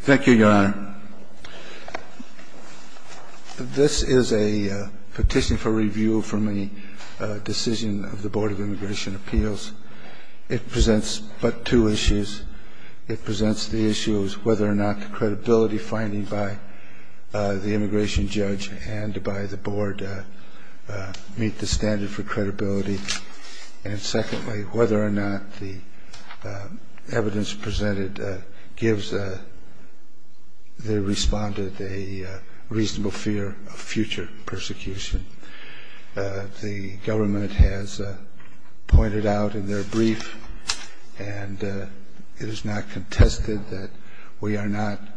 Thank you, Your Honor. This is a petition for review from a decision of the Board of Immigration Appeals. It presents but two issues. It presents the issue of whether or not the credibility finding by the immigration judge and by the board meet the standard for credibility. And secondly, whether or not the evidence presented gives a good enough basis for the board to make a decision. And thirdly, whether or not the evidence presented gives a good enough basis for the board to make a decision.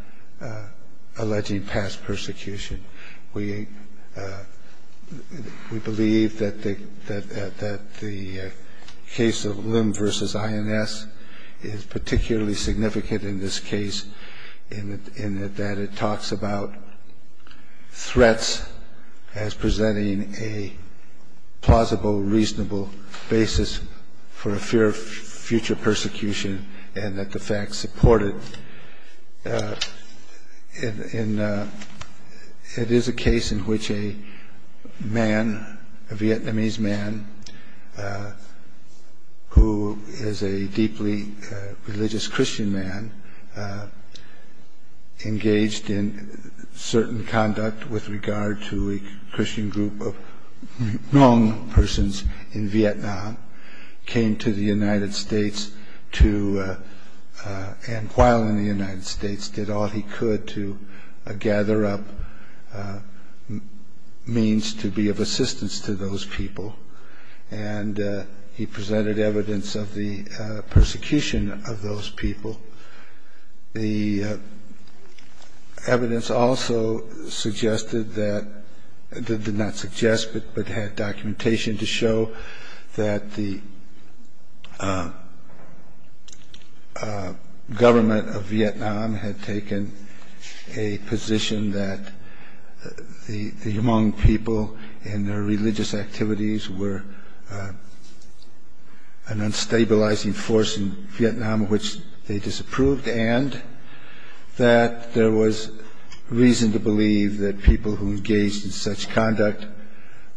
In that it talks about threats as presenting a plausible, reasonable basis for a fear of future persecution and that the facts support it. And it is a case in which a man, a Vietnamese man, who is a deeply religious Christian man, engaged in certain conduct with regard to a Christian group of Hmong persons in Vietnam, came to the United States to... gather up means to be of assistance to those people. And he presented evidence of the persecution of those people. The evidence also suggested that... did not suggest but had documentation to show that the government of Vietnam had taken a position that the Hmong people and their religious activities were an unstabilizing force in Vietnam, which they disapproved, and that there was reason to believe that people who engaged in such conduct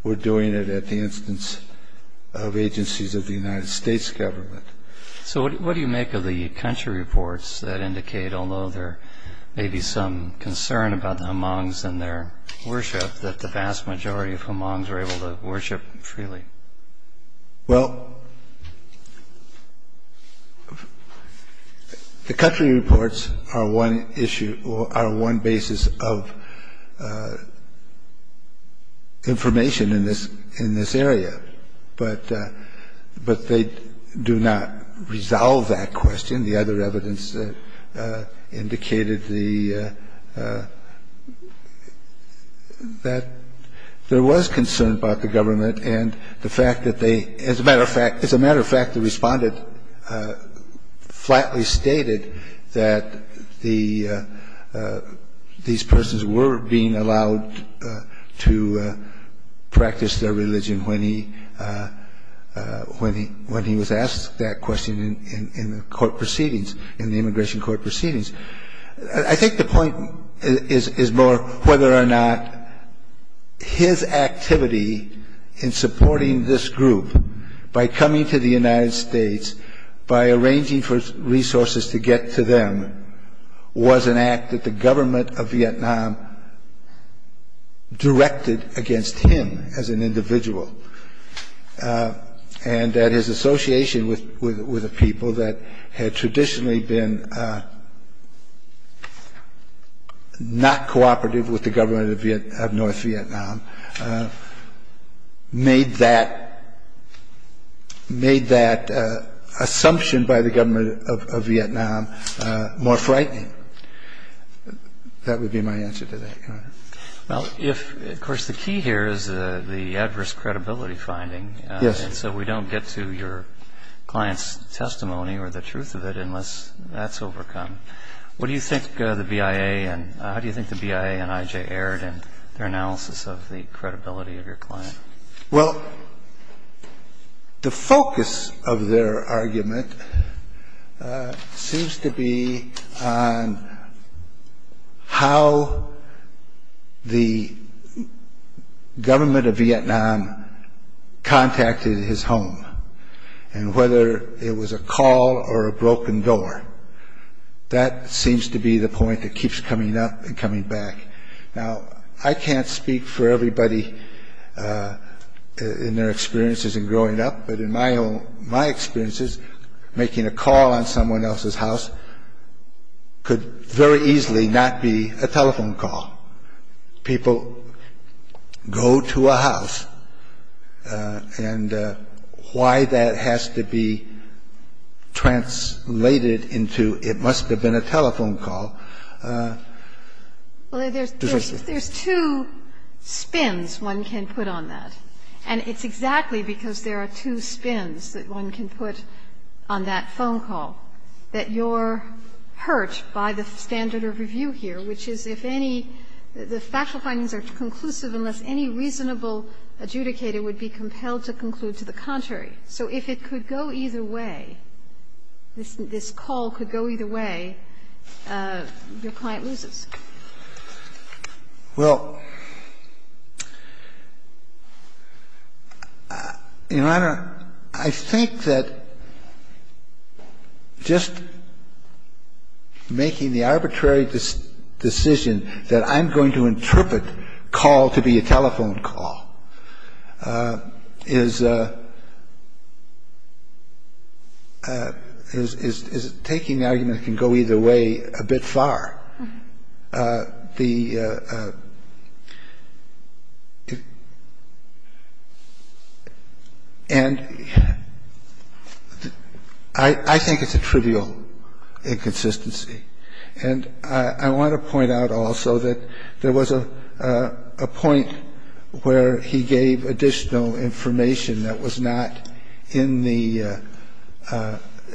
were doing it at the instance of agencies of the United States government. So what do you make of the country reports that indicate, although there may be some concern about the Hmongs and their worship, that the vast majority of Hmongs are able to worship freely? Well, the country reports are one basis of information in this area, but they do not resolve that question. The other evidence indicated that there was concern about the government and the fact that they, as a matter of fact, the respondent flatly stated that these persons were being allowed to practice their religion when he was asked that question in the immigration court proceedings. I think the point is more whether or not his activity in supporting this group by coming to the United States, by arranging for resources to get to them, was an act that the government of Vietnam directed against him as an individual, and that his association with the people that had traditionally been not cooperative with the government of North Vietnam made that assumption by the government of Vietnam more frightening. That would be my answer to that. Of course, the key here is the adverse credibility finding, and so we don't get to your client's testimony or the truth of it unless that's overcome. How do you think the BIA and IJ aired in their analysis of the credibility of your client? Well, the focus of their argument seems to be on how the government of Vietnam contacted his home, and whether it was a call or a broken door. That seems to be the point that keeps coming up and coming back. Now, I can't speak for everybody in their experiences in growing up, but in my experiences, making a call on someone else's house could very easily not be a telephone call. People go to a house, and why that has to be translated into, it must have been a telephone call is difficult. There's two spins one can put on that, and it's exactly because there are two spins that one can put on that phone call that you're hurt by the standard of review here, which is if any, the factual findings are conclusive unless any reasonable adjudicator would be compelled to conclude to the contrary. So if it could go either way, this call could go either way, your client loses. Well, Your Honor, I think that just making the arbitrary decision that I'm going to interpret call to be a telephone call is taking the argument I think it's a trivial inconsistency, and I want to point out also that there was a point where he gave additional information that was not in the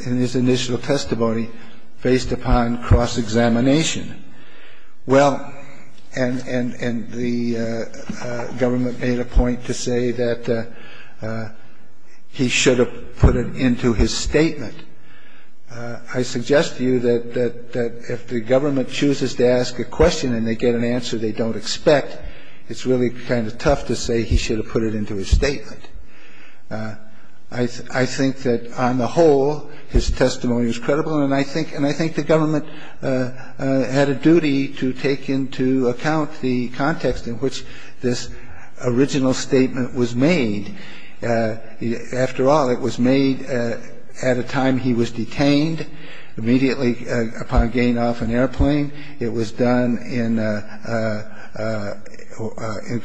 in his initial testimony based upon cross-examination. Well, and the government made a point to say that he should have put it into his statement. I suggest to you that if the government chooses to ask a question and they get an answer they don't expect, it's really kind of tough to say he should have put it into his statement. I think that on the whole, his testimony is credible, and I think the government had a duty to take into account the context in which this original statement was made. After all, it was made at a time he was detained immediately upon gain off an airplane. It was done in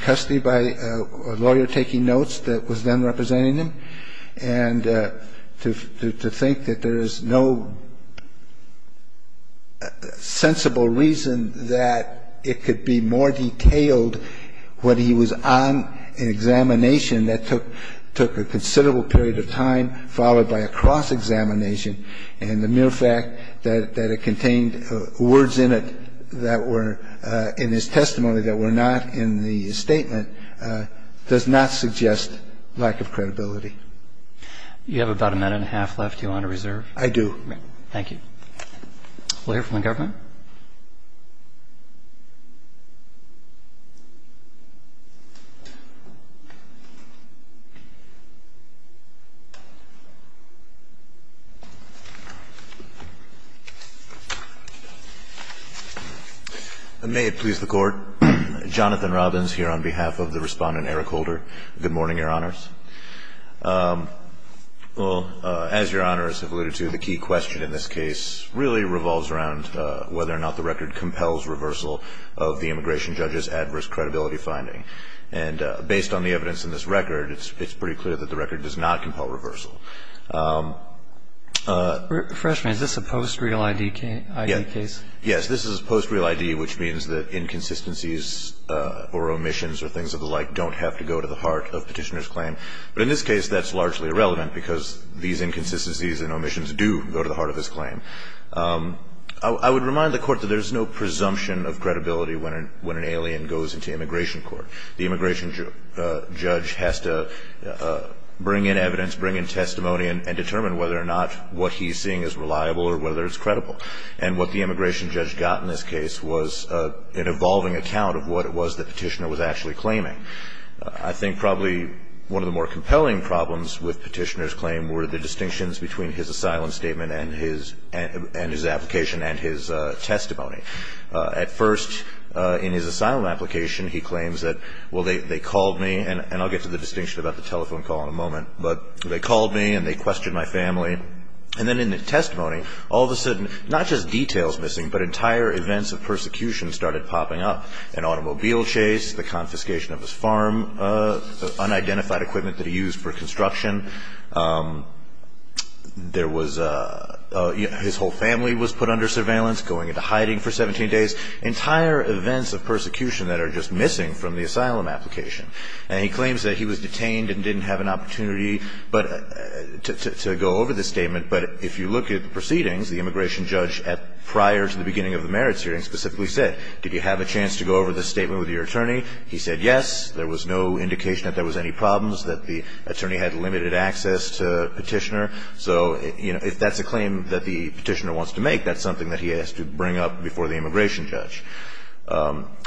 custody by a lawyer taking notes that was then representing him, and to think that there is no sensible reason that it could be more detailed when he was on an examination that took a considerable period of time followed by a cross-examination, and the mere fact that it contained words in it that were in his testimony that were not in the statement does not suggest lack of credibility. You have about a minute and a half left. Do you want to reserve? I do. Thank you. We'll hear from the government. May it please the Court. Jonathan Robbins here on behalf of the Respondent Eric Holder. Good morning, Your Honors. Well, as Your Honors have alluded to, the key question in this case really revolves around whether or not the record compels reversal of the immigration judge's adverse credibility finding. And based on the evidence in this record, it's pretty clear that the record does not compel reversal. Refresh me. Is this a post-real ID case? Yes. This is a post-real ID, which means that inconsistencies or omissions or things of the like don't have to go to the heart of petitioner's claim. But in this case, that's largely irrelevant because these inconsistencies and omissions do go to the heart of his claim. I would remind the Court that there's no presumption of credibility when an alien goes into immigration court. The immigration judge has to bring in evidence, bring in testimony, and determine whether or not what he's seeing is reliable or whether it's credible. And what the immigration judge got in this case was an evolving account of what it was the petitioner was actually claiming. I think probably one of the more compelling problems with petitioner's claim were the distinctions between his asylum statement and his application and his testimony. At first, in his asylum application, he claims that, well, they called me, and I'll get to the distinction about the telephone call in a moment, but they called me and they questioned my family. And then in the testimony, all of a sudden, not just details missing, but entire events of persecution started popping up. An automobile chase, the confiscation of his farm, unidentified equipment that he used for construction. There was his whole family was put under surveillance, going into hiding for 17 days, entire events of persecution that are just missing from the asylum application. And he claims that he was detained and didn't have an opportunity to go over the statement. But if you look at the proceedings, the immigration judge prior to the beginning of the merits hearing specifically said, did you have a chance to go over the statement with your attorney? He said yes. There was no indication that there was any problems, that the attorney had limited access to the petitioner. So if that's a claim that the petitioner wants to make, that's something that he has to bring up before the immigration judge.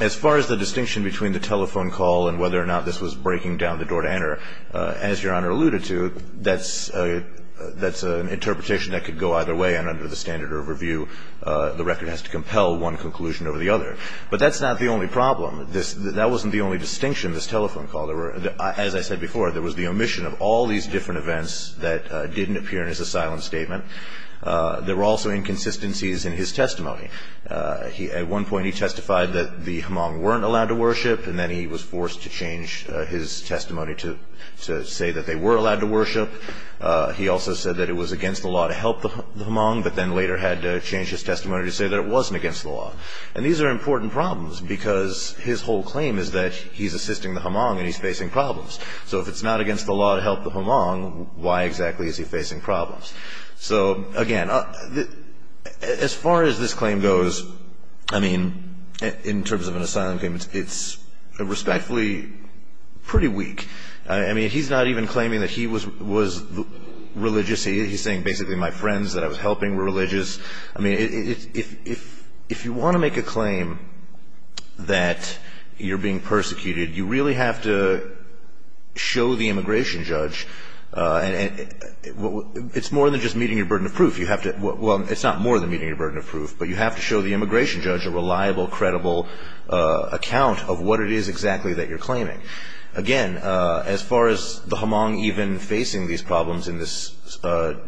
As far as the distinction between the telephone call and whether or not this was breaking down the door to enter, as Your Honor alluded to, that's an interpretation that could go either way. And under the standard of review, the record has to compel one conclusion over the other. But that's not the only problem. That wasn't the only distinction, this telephone call. As I said before, there was the omission of all these different events that didn't appear in his asylum statement. There were also inconsistencies in his testimony. At one point he testified that the Hmong weren't allowed to worship, and then he was forced to change his testimony to say that they were allowed to worship. He also said that it was against the law to help the Hmong, but then later had to change his testimony to say that it wasn't against the law. And these are important problems, because his whole claim is that he's assisting the Hmong and he's facing problems. So if it's not against the law to help the Hmong, why exactly is he facing problems? So, again, as far as this claim goes, I mean, in terms of an asylum claim, it's respectfully pretty weak. I mean, he's not even claiming that he was religious. He's saying basically my friends that I was helping were religious. I mean, if you want to make a claim that you're being persecuted, you really have to show the immigration judge. It's more than just meeting your burden of proof. Well, it's not more than meeting your burden of proof, but you have to show the immigration judge a reliable, credible account of what it is exactly that you're claiming. Again, as far as the Hmong even facing these problems in this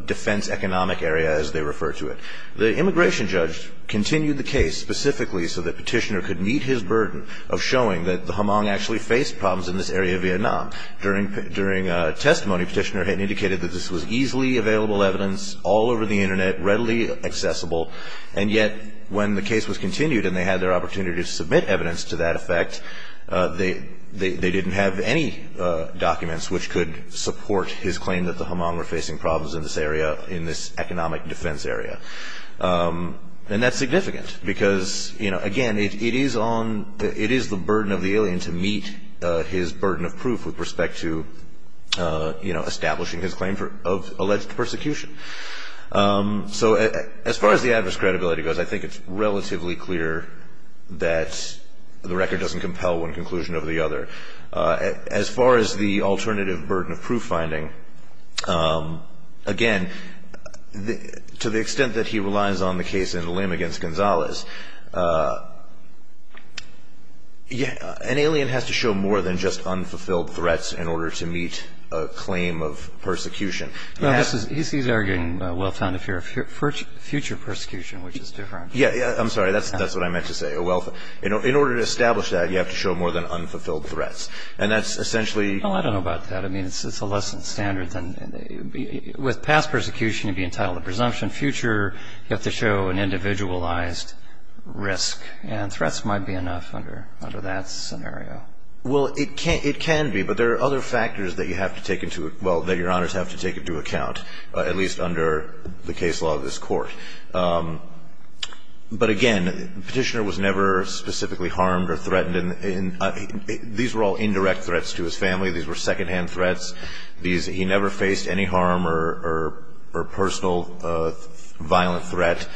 defense economic area, as they refer to it, the immigration judge continued the case specifically so that Petitioner could meet his burden of showing that the Hmong actually faced problems in this area of Vietnam. During testimony, Petitioner had indicated that this was easily available evidence all over the Internet, readily accessible, and yet when the case was continued and they had their opportunity to submit evidence to that effect, they didn't have any documents which could support his claim that the Hmong were facing problems in this area, in this economic defense area. And that's significant because, again, it is the burden of the alien to meet his burden of proof with respect to establishing his claim of alleged persecution. So as far as the adverse credibility goes, I think it's relatively clear that the record doesn't compel one conclusion over the other. As far as the alternative burden of proof finding, again, to the extent that he relies on the case in Lim against Gonzalez, an alien has to show more than just unfulfilled threats in order to meet a claim of persecution. He's arguing well-founded fear of future persecution, which is different. Yeah, I'm sorry. That's what I meant to say. In order to establish that, you have to show more than unfulfilled threats. And that's essentially – Well, I don't know about that. I mean, it's a lesser standard than – with past persecution, you'd be entitled to presumption. Future, you have to show an individualized risk, and threats might be enough under that scenario. Well, it can be, but there are other factors that you have to take into – well, that your honors have to take into account, at least under the case law of this court. But, again, Petitioner was never specifically harmed or threatened. These were all indirect threats to his family. These were secondhand threats. He never faced any harm or personal violent threat.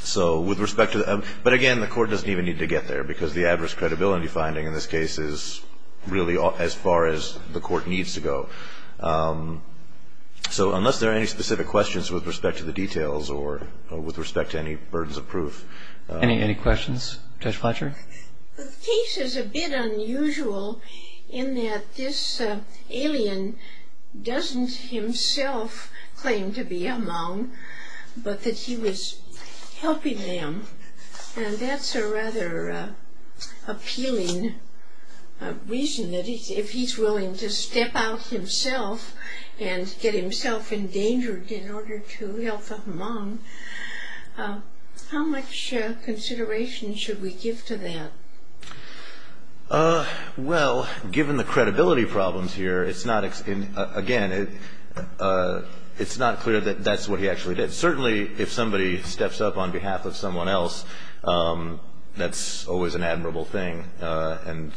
So with respect to – but, again, the court doesn't even need to get there, because the adverse credibility finding in this case is really, as far as the court needs to go. So unless there are any specific questions with respect to the details, or with respect to any burdens of proof – Any questions? Judge Fletcher? The case is a bit unusual, in that this alien doesn't himself claim to be a monk, but that he was helping them. And that's a rather appealing reason, that if he's willing to step out himself and get himself endangered in order to help a monk, how much consideration should we give to that? Well, given the credibility problems here, it's not – again, it's not clear that that's what he actually did. Certainly, if somebody steps up on behalf of someone else, that's always an admirable thing, and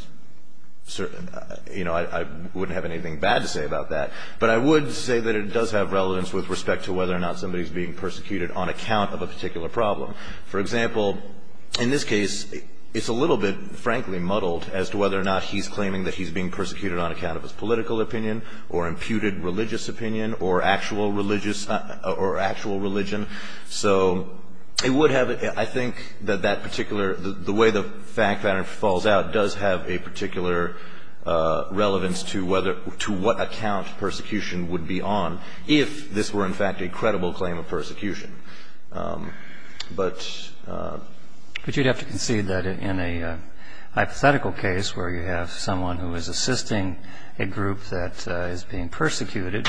I wouldn't have anything bad to say about that. But I would say that it does have relevance with respect to whether or not somebody is being persecuted on account of a particular problem. For example, in this case, it's a little bit, frankly, muddled, as to whether or not he's claiming that he's being persecuted on account of his political opinion, or imputed religious opinion, or actual religion. So it would have – I think that that particular – the way the fact pattern falls out does have a particular relevance to what account persecution would be on, if this were, in fact, a credible claim of persecution. But you'd have to concede that in a hypothetical case, where you have someone who is assisting a group that is being persecuted,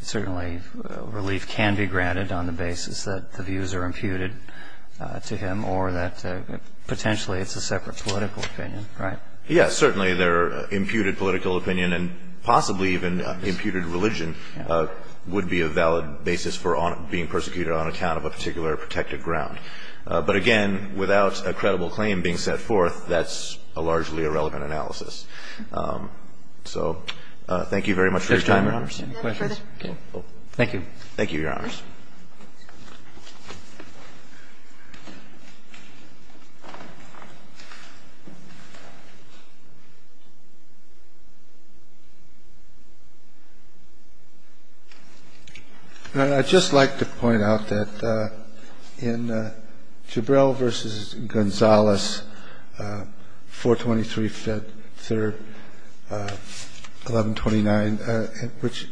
certainly relief can be granted on the basis that the views are imputed to him, or that potentially it's a separate political opinion, right? Yes. Certainly, their imputed political opinion, and possibly even imputed religion, would be a valid basis for being persecuted on account of a particular protected ground. But again, without a credible claim being set forth, that's a largely irrelevant analysis. So thank you very much for your time. Any questions? Thank you, Your Honors. I'd just like to point out that in Jibril v. Gonzales, 423 Fed 3rd, 1129, which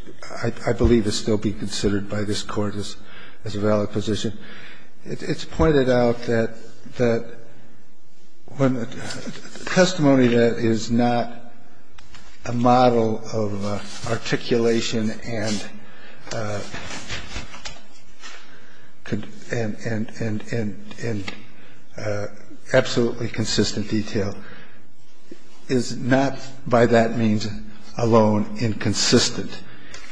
I believe is still being considered by this Court as a valid position, it's pointed out that the testimony that is not a model of articulation and absolutely consistent detail is not, by that means alone, inconsistent,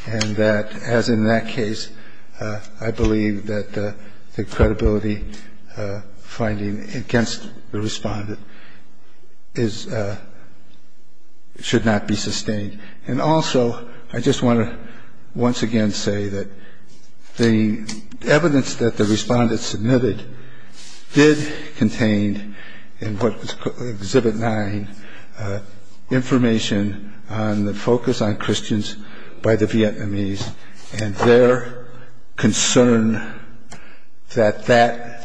and that, as in that case, I believe that the credibility finding against the respondent should not be sustained. And also, I just want to once again say that the evidence that the respondent submitted did contain, in what was Exhibit 9, information on the focus on Christians by the Vietnamese and their concern that that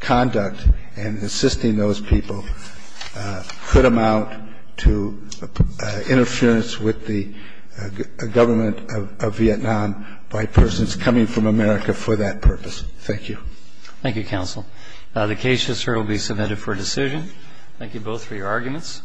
conduct in assisting those people could amount to interference with the government of Vietnam by persons coming from America for that purpose. Thank you. Thank you, counsel. The case just heard will be submitted for decision. Thank you both for your arguments.